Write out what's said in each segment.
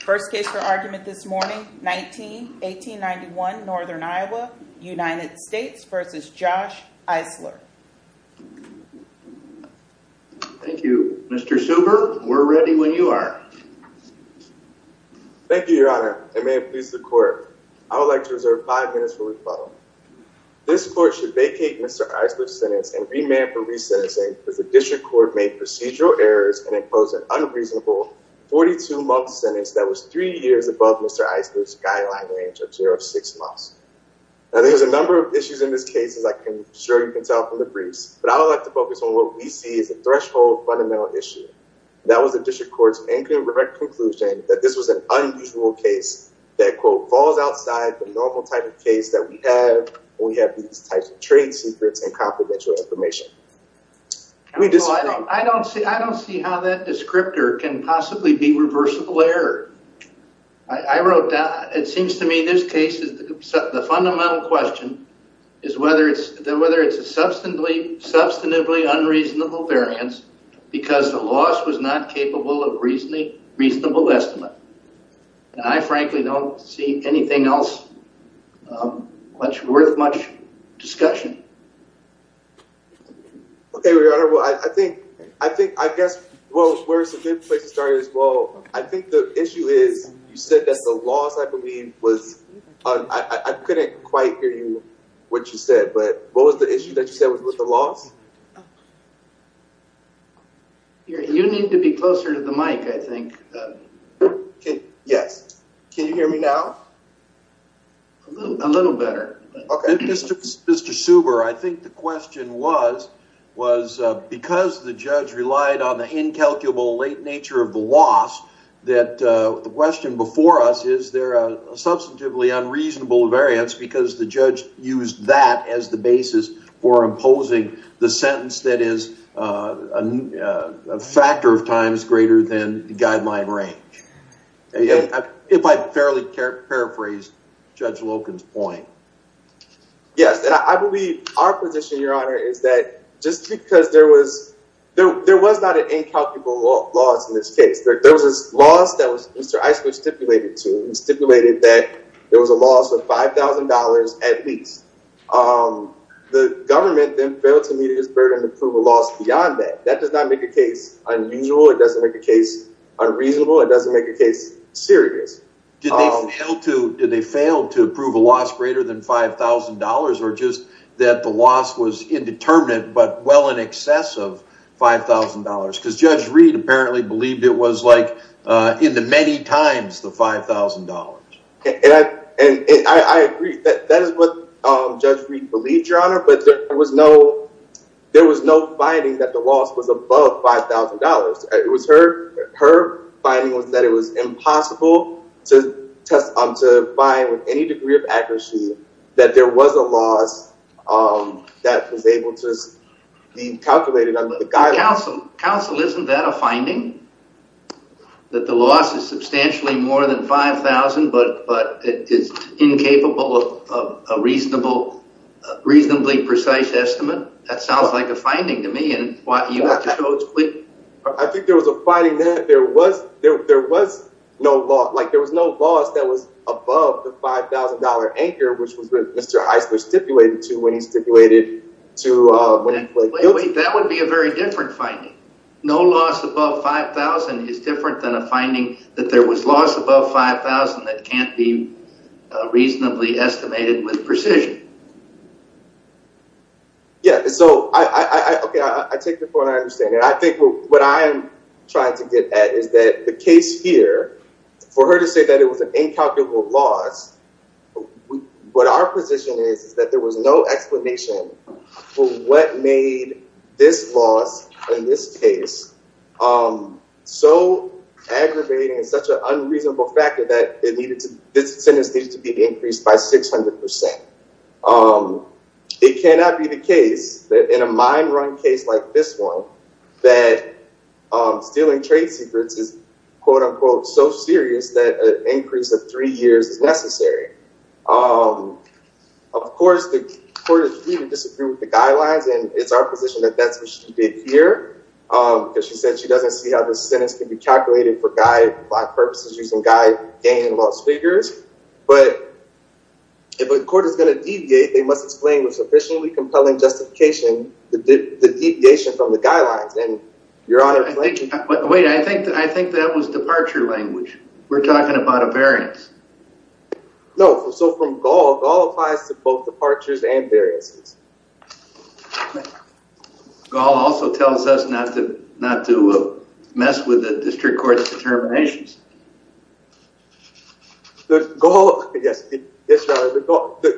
First case for argument this morning, 1891 Northern Iowa, United States v. Josh Isler. Thank you. Mr. Suber, we're ready when you are. Thank you, your honor, and may it please the court. I would like to reserve five minutes for rebuttal. This court should vacate Mr. Isler's sentence and remand for resentencing if the was three years above Mr. Isler's guideline range of zero to six months. Now, there's a number of issues in this case, as I'm sure you can tell from the briefs, but I would like to focus on what we see as a threshold fundamental issue. That was the district court's incorrect conclusion that this was an unusual case that, quote, falls outside the normal type of case that we have when we have these types of trade secrets and confidential information. We disagree. I don't see how that descriptor can possibly be reversible error. I wrote that. It seems to me this case is the fundamental question is whether it's a substantively unreasonable variance because the loss was not capable of reasonably reasonable estimate. And I frankly don't see anything else worth much discussion. Okay, your honor. Well, I think I guess where it's a good place to start is, well, I think the issue is you said that the loss, I believe, was I couldn't quite hear you what you said, but what was the issue that you said was with the loss? You need to be closer to the mic, I think. Yes. Can you hear me now? A little better. Okay. Mr. Suber, I think the question was because the judge relied on the incalculable late nature of the loss that the question before us is there a substantively unreasonable variance because the judge used that as the basis for imposing the sentence that is a factor of times than the guideline range. If I fairly paraphrase Judge Loken's point. Yes, and I believe our position, your honor, is that just because there was not an incalculable loss in this case. There was a loss that Mr. Icewood stipulated to him. He stipulated that there was a loss of $5,000 at least. The government then failed to meet his burden to prove a loss beyond that. That does not make a case unusual. It doesn't make a case unreasonable. It doesn't make a case serious. Did they fail to prove a loss greater than $5,000 or just that the loss was indeterminate but well in excess of $5,000? Because Judge Reed apparently believed it was like in the many times the $5,000. And I agree that that is what Judge Reed believed, your honor, but there was no finding that the loss was above $5,000. It was her finding was that it was impossible to find with any degree of accuracy that there was a loss that was able to be calculated under $5,000. I think there was a finding that there was no loss that was above the $5,000 anchor, which was what Mr. Icewood stipulated to when he stipulated. Wait, wait. That would be a very different finding. No loss above $5,000 is different than a finding that there was loss above $5,000 that can't be reasonably estimated with precision. Yeah, so I take the point. I understand it. I think what I'm trying to get at is that the case here, for her to say that it was an incalculable loss, what our position is is that there was no explanation for what made this loss in this case so aggravating and such an unreasonable factor that this sentence needed to be increased by 600%. It cannot be the case that in a mine run case like this one that stealing trade secrets is quote unquote so serious that an increase of three years is necessary. Of course, the court would disagree with the guidelines, and it's our position that that's what she did here, because she said she doesn't see how this sentence could be calculated for black purposes using gain and loss figures. But if a court is going to deviate, they must explain with sufficiently compelling justification the deviation from the guidelines. And your Honor— Wait, I think that was departure language. We're talking about a variance. No, so from Gaul, Gaul applies to both departures and variances. Gaul also tells us not to mess with the district court's determinations. The Gaul—yes, yes, Your Honor,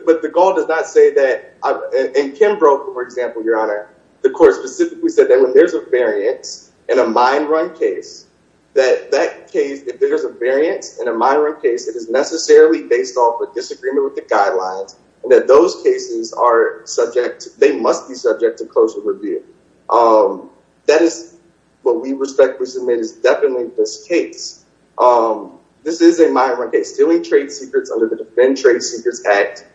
but the Gaul does not say that—in Kimbrough, for example, Your Honor, the court specifically said that when there's a variance in a mine run case, that that case, if there's a variance in a mine run case, it is necessarily based off a disagreement with the guidelines, and that those cases are subject—they must be subject to closer review. That is what we respectfully submit is definitely this case. This is a mine run case. Stealing trade secrets under the Defend Trade Secrets Act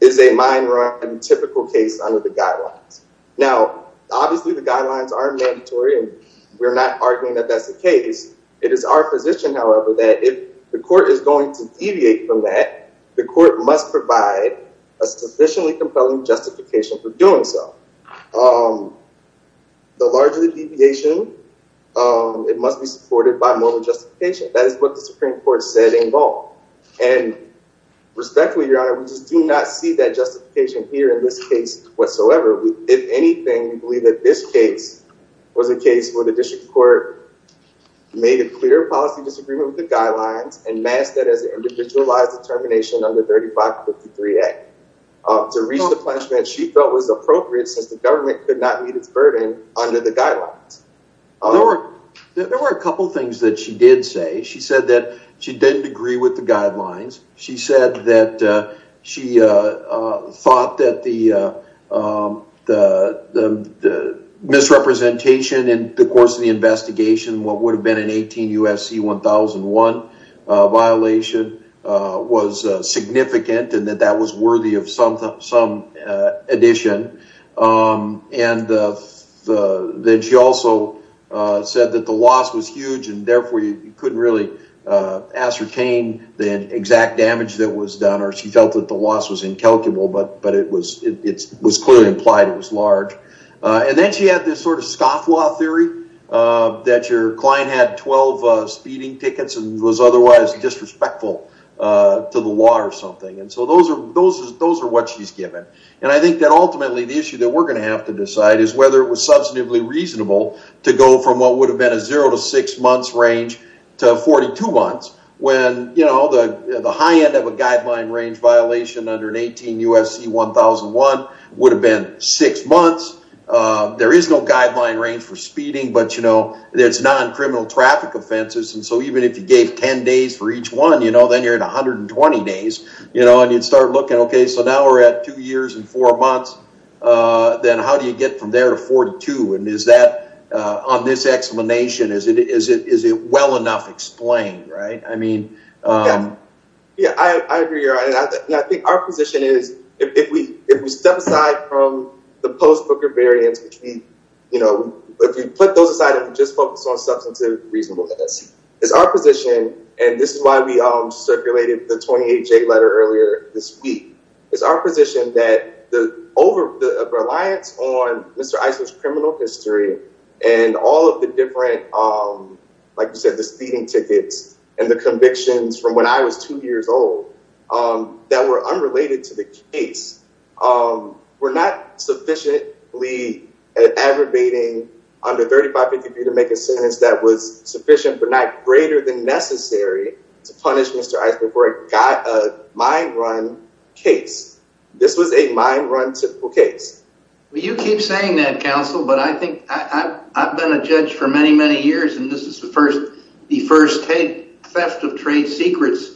is a mine run typical case under the guidelines. Now, obviously, the guidelines are mandatory, and we're not arguing that that's the case. It is our position, however, that if the court is going to deviate from that, the court must provide a sufficiently compelling justification for doing so. The larger the deviation, it must be supported by moral justification. That is what the Supreme Court said in Gaul. And respectfully, Your Honor, we just do not see that justification here in this case whatsoever. If anything, we believe that this case was a case where the district court made a clear policy disagreement with the guidelines and masked that as an individualized determination under 3553A to reach the punishment she felt was appropriate since the government could not meet its burden under the guidelines. There were a couple things that she did say. She said that she didn't agree with the guidelines. She said that she thought that the misrepresentation in the course of the investigation, what would have been an 18 UFC 1001 violation, was significant and that that was worthy of some addition. And then she also said that the loss was huge and therefore you couldn't really ascertain the exact damage that was done or she felt that the loss was incalculable, but it was clearly implied it was large. And then she had this sort of scoff law theory that your client had 12 speeding tickets and was otherwise disrespectful to the law or something. And so those are what she's given. And I think that ultimately the issue that we're going to have to decide is whether it was substantively reasonable to go from what would have been a zero to six months range to 42 months when the high end of a guideline range violation under an 18 UFC 1001 would have been six months. There is no guideline range for speeding, but it's non-criminal traffic offenses. And so even if you gave 10 days for each one, then you're at 120 days and you'd start looking, okay, so now we're at two years and four months, then how do you get from there to 42? And is that, on this explanation, is it is it, is it well enough explained, right? I mean, yeah, I agree. I think our position is if we, if we step aside from the post-Booker variants, which we, you know, if you put those aside and just focus on substantive reasonableness, it's our position, and this is why we circulated the 28J letter earlier this week, it's our position that the over the reliance on Mr. Eisler's criminal history and all of the different, like you said, the speeding tickets and the convictions from when I was two years old that were unrelated to the case were not sufficiently aggravating under 35 they could be to make a sentence that was sufficient but not greater than necessary to punish Mr. Eisler before it got a mine run case. This was a mine run typical case. Well, you keep saying that, counsel, but I think I've been a judge for many, many years, and this is the first, the first theft of trade secrets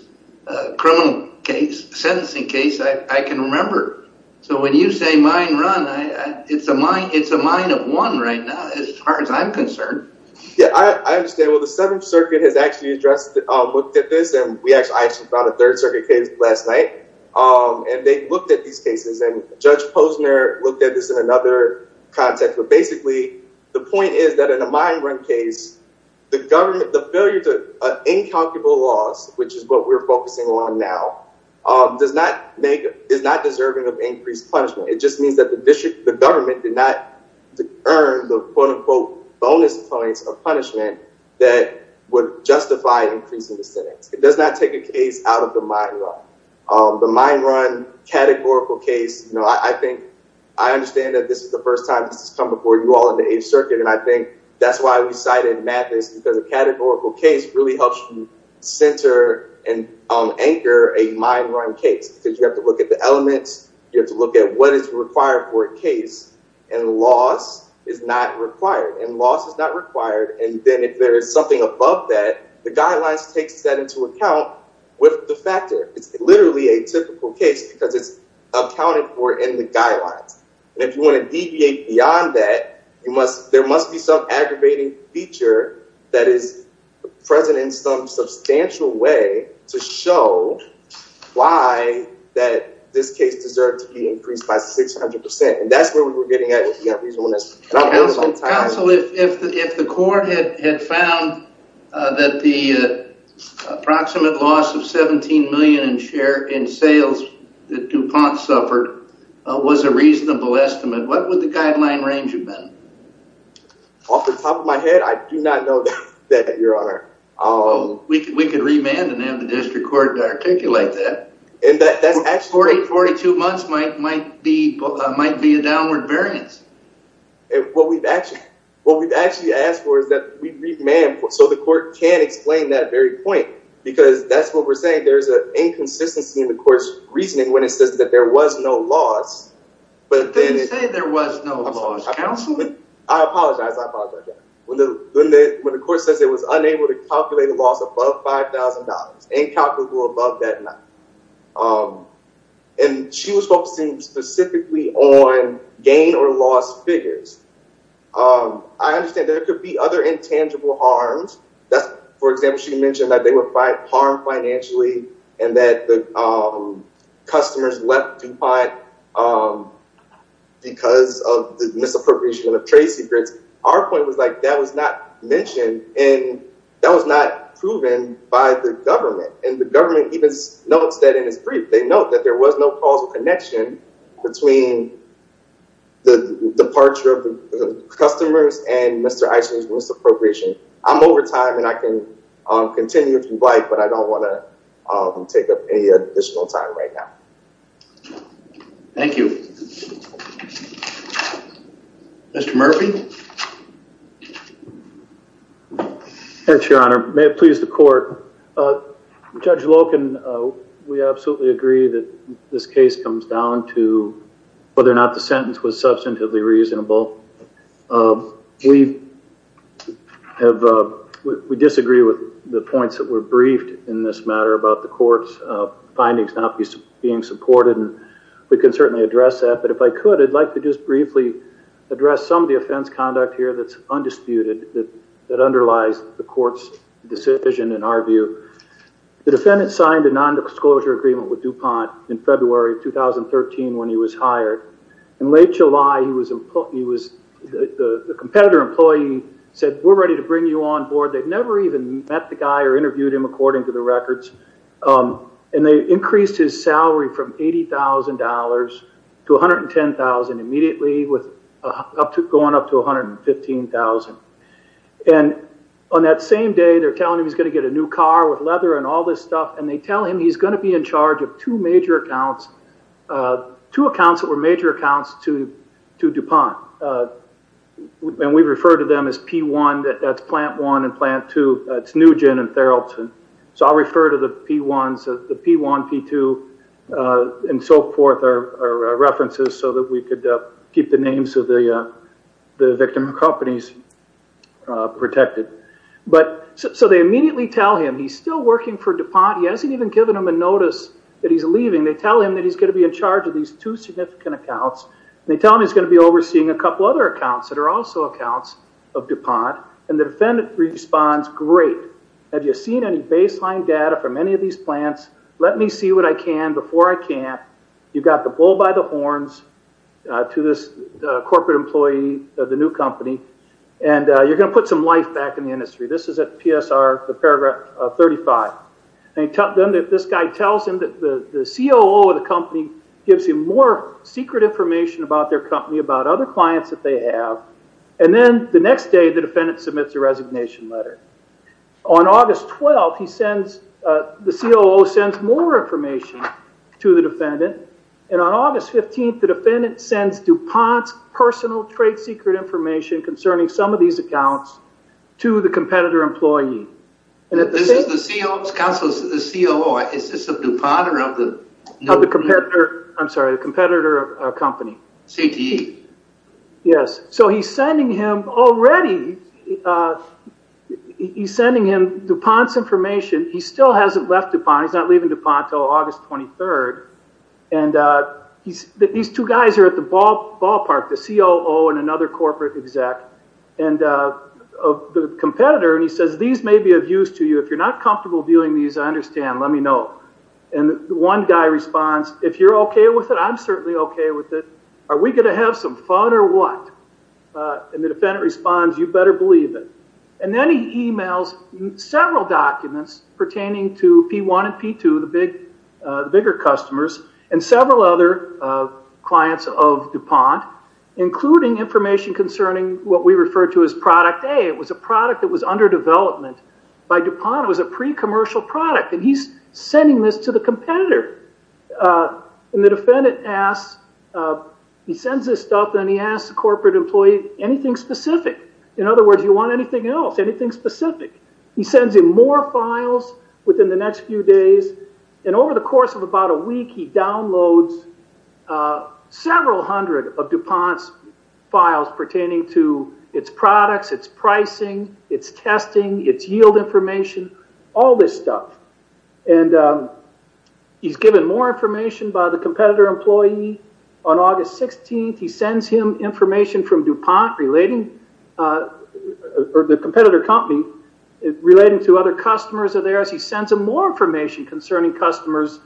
criminal case, sentencing case I can remember. So when you say mine run, it's a mine, it's a mine of one right now as far as I'm concerned. Yeah, I understand. Well, the Seventh Circuit has actually addressed, looked at this, and we actually, I actually found a Third Circuit case last night, and they looked at these cases, and Judge Posner looked at this in another context, but basically the point is that in a mine run case, the government, the failure to, incalculable loss, which is what we're focusing on now, does not make, is not deserving of increased punishment. It just means that the district, the government did not earn the quote unquote bonus points of punishment that would justify increasing the sentence. It does not take a case out of the mine run. The mine run categorical case, you know, I think, I understand that this is the first time this has come before you all in the Eighth Circuit, and I think that's why we cited Mathis, because a categorical case really helps you center and anchor a mine run case, because you have to look at the elements, you have to look at what is required for a case, and loss is not required, and loss is not required, and then if there is something above that, the guidelines takes that into account with the factor. It's literally a typical case, because it's accounted for in the guidelines, and if you want to deviate beyond that, you must, there must be some aggravating feature that is present in some substantial way to show why that this case deserved to be increased by 600 percent, and that's where we were getting at with that reason. Counsel, if the court had found that the approximate loss of 17 million in share in sales that DuPont suffered was a reasonable estimate, what would the guideline range have been? Off the top of my head, I do not know that, your honor. We could remand and have the district court articulate that. Forty-two months might be a downward variance. What we've actually asked for is that we remand, so the court can explain that very point, because that's what we're saying, there's an inconsistency in the court's reasoning when it says that there was no loss. But didn't you say there was no loss, counsel? I apologize, I apologize. When the court says it was unable to calculate a loss above $5,000, incalculable above that amount, and she was focusing specifically on gain or loss figures, I understand there could be other intangible harms. For example, she mentioned that they were harmed financially, and that the customers left DuPont because of the misappropriation of trade secrets. Our point was like that was not mentioned, and that was not proven by the government. And the government even notes that in its brief, they note that there was no causal connection between the departure of the customers and Mr. Eisner's misappropriation. I'm over time, and I can continue if you'd like, but I don't want to take up any additional time right now. Thank you. Mr. Murphy? Yes, Your Honor. May it please the court. Judge Loken, we absolutely agree that this case comes down to whether or not the sentence was substantively reasonable. We disagree with the points that were briefed in this matter about the court's findings not being supported, and we can certainly address that. But if I could, I'd like to just briefly address some of the offense conduct here that's undisputed, that underlies the court's decision in our view. The defendant signed a nondisclosure agreement with DuPont in February of 2013 when he was hired. In late July, the competitor employee said, we're ready to bring you on board. They'd never even met the guy or interviewed him, according to the records. And they increased his salary from $80,000 to $110,000 immediately, going up to $115,000. And on that same day, they're telling him he's going to get a new car with leather and all this stuff, and they tell him he's going to be in charge of two major accounts, two accounts that were major accounts to DuPont. And we refer to them as P1, that's Plant 1 and Plant 2. It's Nugent and Theralton. So I'll refer to the P1, P2, and so forth are references so that we could keep the names of the victim companies protected. So they immediately tell him he's still working for DuPont. He hasn't even given them a notice that he's leaving. They tell him that he's going to be in charge of these two significant accounts. They tell him he's going to be overseeing a couple other accounts that are also accounts of DuPont, and the defendant responds, great. Have you seen any baseline data from any of these plants? Let me see what I can before I can't. You've got the bull by the horns to this corporate employee of the new company, and you're going to put some life back in the industry. This is at PSR, the paragraph 35. And if this guy tells him that the COO of the company gives him more secret information about their company, about other clients that they have, and then the next day the defendant submits a resignation letter. On August 12th, the COO sends more information to the defendant, and on August 15th, the defendant sends DuPont's personal trade secret information concerning some of these accounts to the competitor employee. This is the COO's counsel, the COO. Is this of DuPont or of the competitor? I'm sorry, the competitor company. CTE. Yes. So he's sending him already, he's sending him DuPont's information. He still hasn't left DuPont. He's not leaving DuPont until August 23rd. And these two guys are at the ballpark, the COO and another corporate exec. And the competitor, and he says, these may be of use to you. If you're not comfortable viewing these, I understand. Let me know. And one guy responds, if you're okay with it, I'm certainly okay with it. Are we going to have some fun or what? And the defendant responds, you better believe it. And then he emails several documents pertaining to P1 and P2, the bigger customers, and several other clients of DuPont, including information concerning what we refer to as product A. It was a product that was under development by DuPont. It was a pre-commercial product. And he's sending this to the competitor. And the defendant asks, he sends this stuff and he asks the corporate employee, anything specific? In other words, you want anything else, anything specific? He sends him more files within the next few days. And over the course of about a week, he downloads several hundred of DuPont's files pertaining to its products, its pricing, its testing, its yield information, all this stuff. And he's given more information by the competitor employee. On August 16th, he sends him information from DuPont relating, or the competitor company, relating to other customers of theirs. He sends him more information concerning customers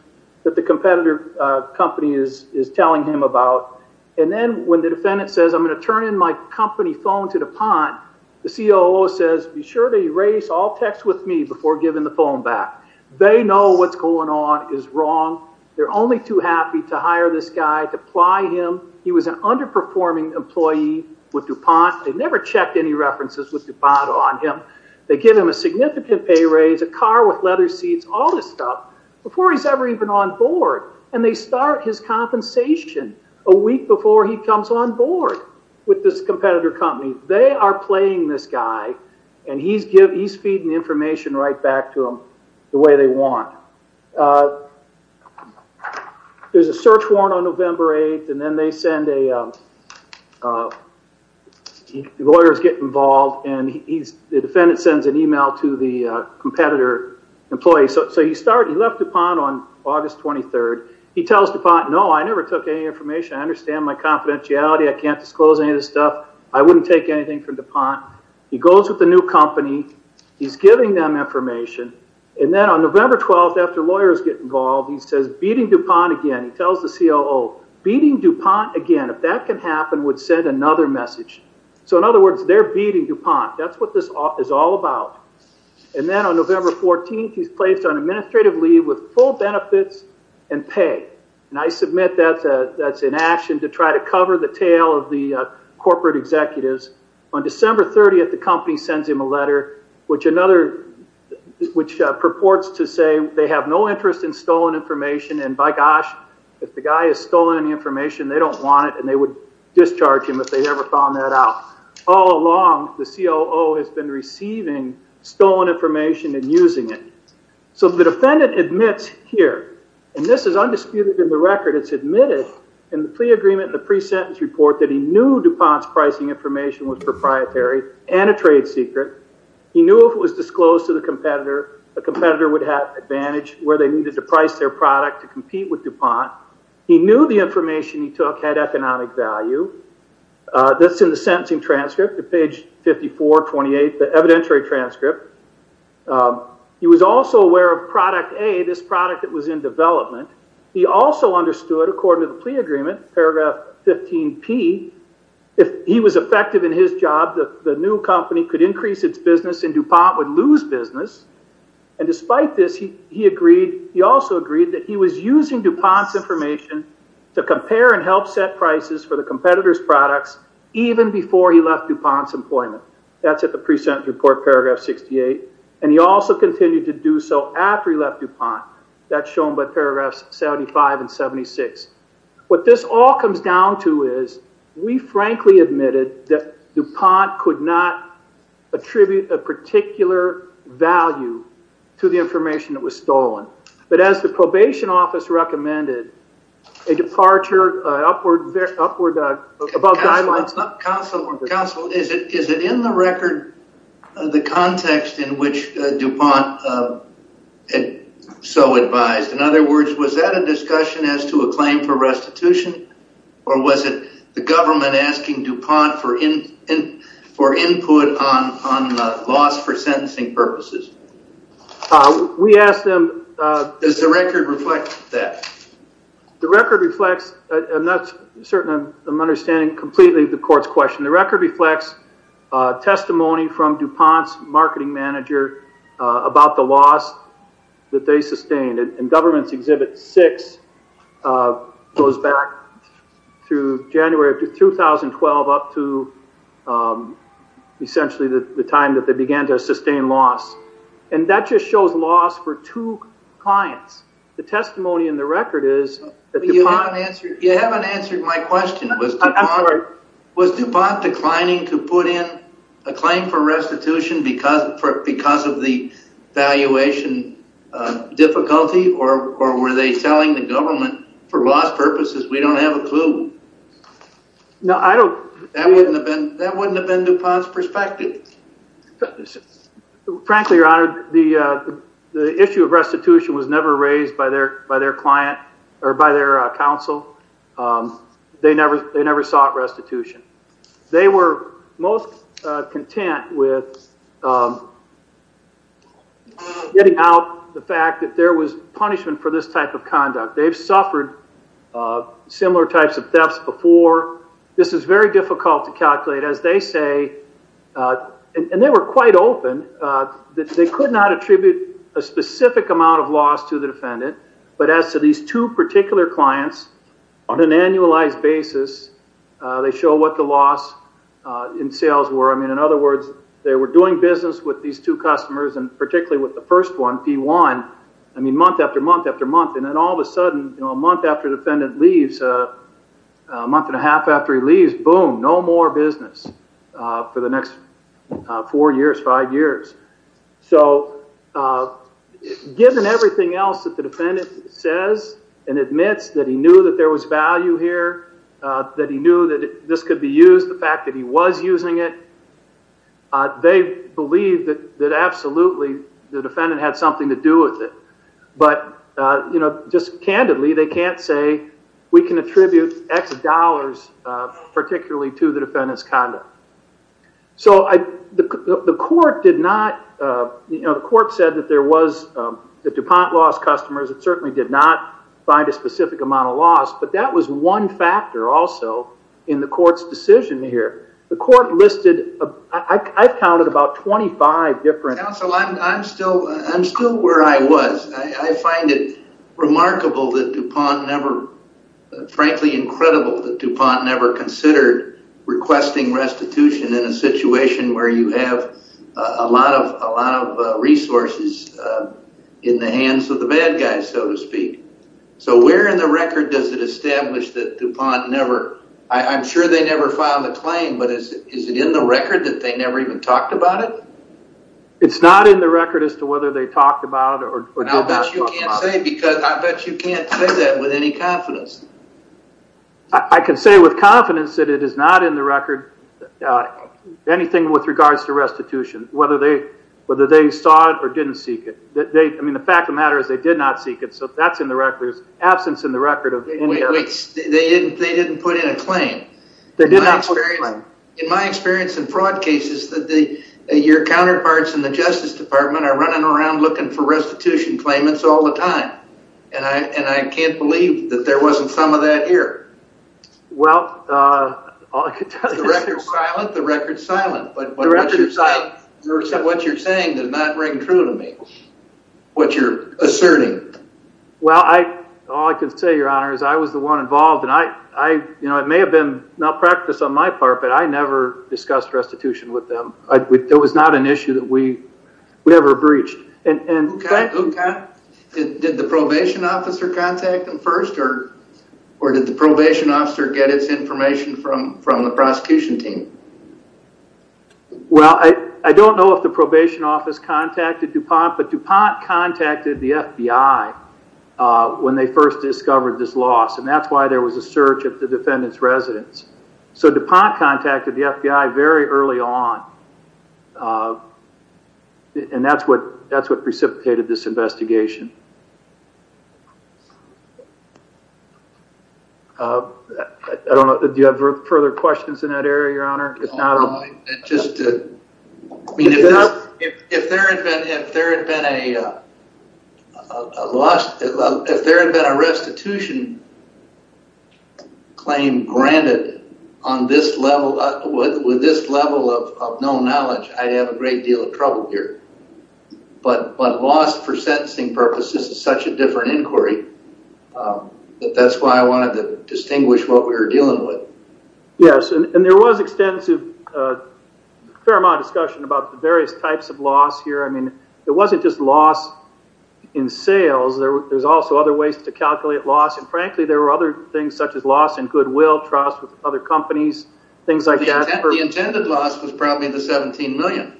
that the competitor company is telling him about. And then when the defendant says, I'm going to turn in my company phone to DuPont, the COO says, be sure to erase all text with me before giving the phone back. They know what's going on is wrong. They're only too happy to hire this guy, to apply him. He was underperforming employee with DuPont. They never checked any references with DuPont on him. They give him a significant pay raise, a car with leather seats, all this stuff, before he's ever even on board. And they start his compensation a week before he comes on board with this competitor company. They are playing this guy and he's feeding the information right to them the way they want. There's a search warrant on November 8th. And then they send a lawyer gets involved and the defendant sends an email to the competitor employee. So he left DuPont on August 23rd. He tells DuPont, no, I never took any information. I understand my confidentiality. I can't disclose any of this stuff. I wouldn't take anything from DuPont. He goes with the new information. And then on November 12th, after lawyers get involved, he says beating DuPont again. He tells the COO, beating DuPont again, if that can happen, would send another message. So in other words, they're beating DuPont. That's what this is all about. And then on November 14th, he's placed on administrative leave with full benefits and pay. And I submit that's an action to try to cover the tail of the corporate executives. On December 30th, the company sends him a letter, which purports to say they have no interest in stolen information. And by gosh, if the guy has stolen any information, they don't want it. And they would discharge him if they ever found that out. All along, the COO has been receiving stolen information and using it. So the defendant admits here, and this is undisputed in the record, it's admitted in the plea agreement and the pre-sentence report that he knew DuPont's pricing information was secret. He knew if it was disclosed to the competitor, the competitor would have advantage where they needed to price their product to compete with DuPont. He knew the information he took had economic value. That's in the sentencing transcript at page 54, 28, the evidentiary transcript. He was also aware of product A, this product that was in development. He also understood, according to the plea agreement, paragraph 15P, if he was effective in his job, the new company could increase its business and DuPont would lose business. And despite this, he also agreed that he was using DuPont's information to compare and help set prices for the competitor's products even before he left DuPont's employment. That's at the pre-sentence report, paragraph 68. And he also continued to do so after he left DuPont. That's shown by paragraphs 75 and 76. What this all comes down to is, we frankly admitted that DuPont could not attribute a particular value to the information that was stolen. But as the probation office recommended, a departure upward, above guidelines. Counsel, is it in the record, the context in which DuPont so advised? In other words, was that a discussion as to a claim for restitution? Or was it the government asking DuPont for input on loss for sentencing purposes? We asked them... Does the record reflect that? The record reflects, I'm not certain I'm understanding completely the court's question. The record reflects testimony from DuPont's marketing manager about the loss that they sustained. And government's exhibit six goes back to January of 2012 up to essentially the time that they began to sustain loss. And that just shows loss for two clients. The testimony in the record is... You haven't answered my question. Was DuPont declining to put in a claim for restitution because of the valuation difficulty? Or were they telling the government, for loss purposes, we don't have a clue? That wouldn't have been DuPont's perspective. Frankly, your honor, the issue of restitution was never raised by their client or by their counsel. They never sought restitution. They were most content with getting out the fact that there was punishment for this type of conduct. They've suffered similar types of thefts before. This is very difficult to calculate. As they say... And they were quite open. They could not attribute a specific amount of loss to the defendant. But as to these two particular clients, on an annualized basis, they show what the loss in sales were. In other words, they were doing business with these two customers, and particularly with the first one, P1, month after month after month. And then all of a sudden, a month after the defendant leaves, a month and a half after he leaves, boom, no more business for the next four years, five years. So given everything else that the defendant says and admits, that he knew that there was value here, that he knew that this could be used, the fact that he was using it, they believe that absolutely the defendant had something to do with it. But just candidly, they can't say we can attribute X dollars particularly to the defendant's conduct. So the court did not... The court said that there was... The DuPont lost customers. It certainly did not find a specific amount of loss. But that was one factor also in the court's decision here. The court listed... I counted about 25 different... I'm still where I was. I find it remarkable that DuPont never... Frankly, incredible that DuPont never considered requesting restitution in a situation where you have a lot of resources in the hands of the bad guys, so to speak. So where in the record does it establish that DuPont never... I'm sure they never filed a claim, but is it in the record that they never even talked about it? It's not in the record as to whether they talked about it or... I bet you can't say because... I bet you can't say that with any confidence. I can say with confidence that it is not in the record, anything with regards to restitution, whether they saw it or didn't seek it. I mean, the fact of the matter is they did not seek it, so that's in the record, absence in the record of... Wait, wait, they didn't put in a claim. They did not put in a claim. In my experience in fraud cases, your counterparts in the Justice Department are running around looking for restitution claimants all the time, and I can't believe that there wasn't some of that here. Well, all I can tell you is... The record's silent. The record's silent, but what you're saying does not ring true to me, what you're asserting. Well, all I can say, Your Honor, is I was the with them. It was not an issue that we ever breached. Did the probation officer contact them first, or did the probation officer get its information from the prosecution team? Well, I don't know if the probation office contacted DuPont, but DuPont contacted the FBI when they first discovered this loss, and that's why there was a search of the defendant's residence. So DuPont contacted the FBI very early on, and that's what precipitated this investigation. I don't know. Do you have further questions in that area, Your Honor? It's just... If there had been a restitution claim granted on this level, with this level of known knowledge, I'd have a great deal of trouble here, but lost for sentencing purposes is such a different inquiry, but that's why I wanted to distinguish what we were dealing with. Yes, and there was extensive, fair amount of discussion about the various types of loss here. I mean, it wasn't just loss in sales. There's also other ways to calculate loss, and frankly, there were other things such as loss in goodwill, trust with other companies, things like that. The intended loss was probably the $17 million.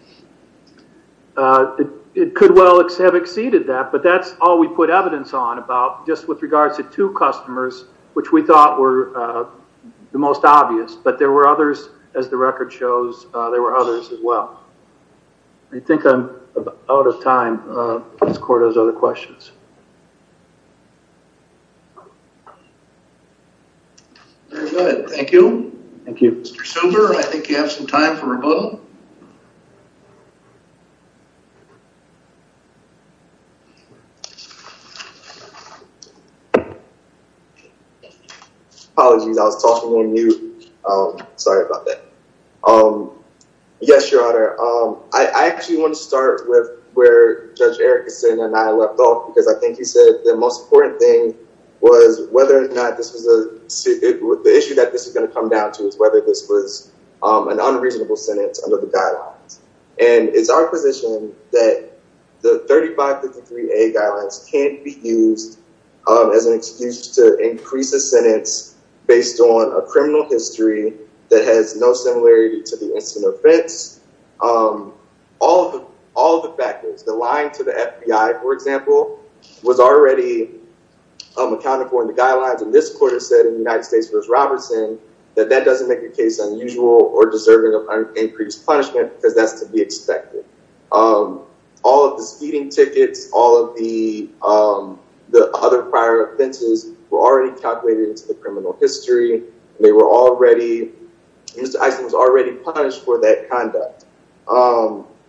It could well have exceeded that, but that's all we put evidence on about just with regards to two customers, which we thought were the most obvious, but there were others, as the record shows, there were others as well. I think I'm out of time. Does the court have other questions? Very good. Thank you. Thank you, Mr. Silber. I think you have some time for rebuttal. Apologies. I was talking on mute. Sorry about that. Yes, Your Honor. I actually want to start with where Judge Erickson and I left off because I think he said the most important thing was whether or not this was a—the issue that this is going to come down to is whether this was an unreasonable sentence under the guidelines, and it's our position that the 3553A guidelines can't be used as an excuse to increase a sentence based on a criminal history that has no similarity to the incident of offense. All the factors, the lying to the FBI, for example, was already accounted for in the guidelines, and this court has said in the United States v. Robertson that that doesn't make the case unusual or deserving of increased punishment because that's to be expected. All of the speeding tickets, all of the other prior offenses were already calculated into the criminal history. They were already—Mr. Eisen was already punished for that conduct.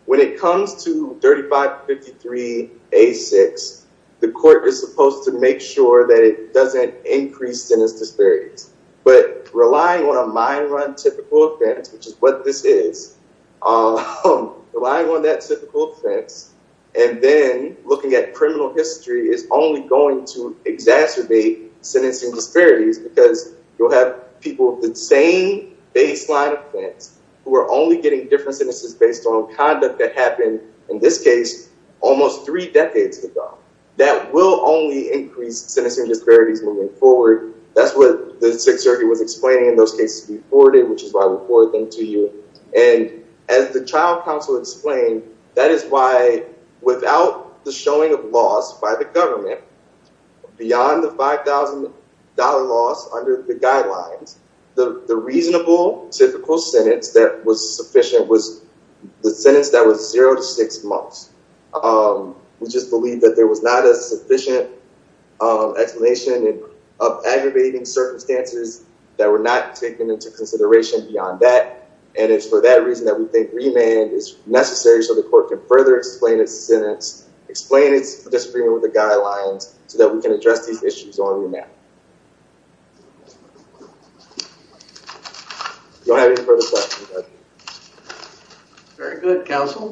When it comes to 3553A6, the court is supposed to make sure that it doesn't increase sentence disparities, but relying on a mine run typical offense, which is what this is, relying on that typical offense and then looking at criminal history is only going to exacerbate sentencing disparities because you'll have people with the same baseline offense who are only getting different sentences based on conduct that happened, in this case, almost three decades ago. That will only increase sentencing disparities moving forward. That's what the Sixth Circuit was explaining in those cases before, which is why I reported them to you, and as the child counsel explained, that is why without the showing of loss by the government beyond the $5,000 loss under the guidelines, the reasonable typical sentence that was sufficient was the sentence that was zero to six months. We just believe that there was not a sufficient explanation of aggravating circumstances that were not taken into consideration beyond that, and it's for that reason that we think remand is necessary so the court can further explain its sentence, explain its disagreement with the guidelines, so that we can address these issues on remand. Do I have any further questions? Very good, counsel.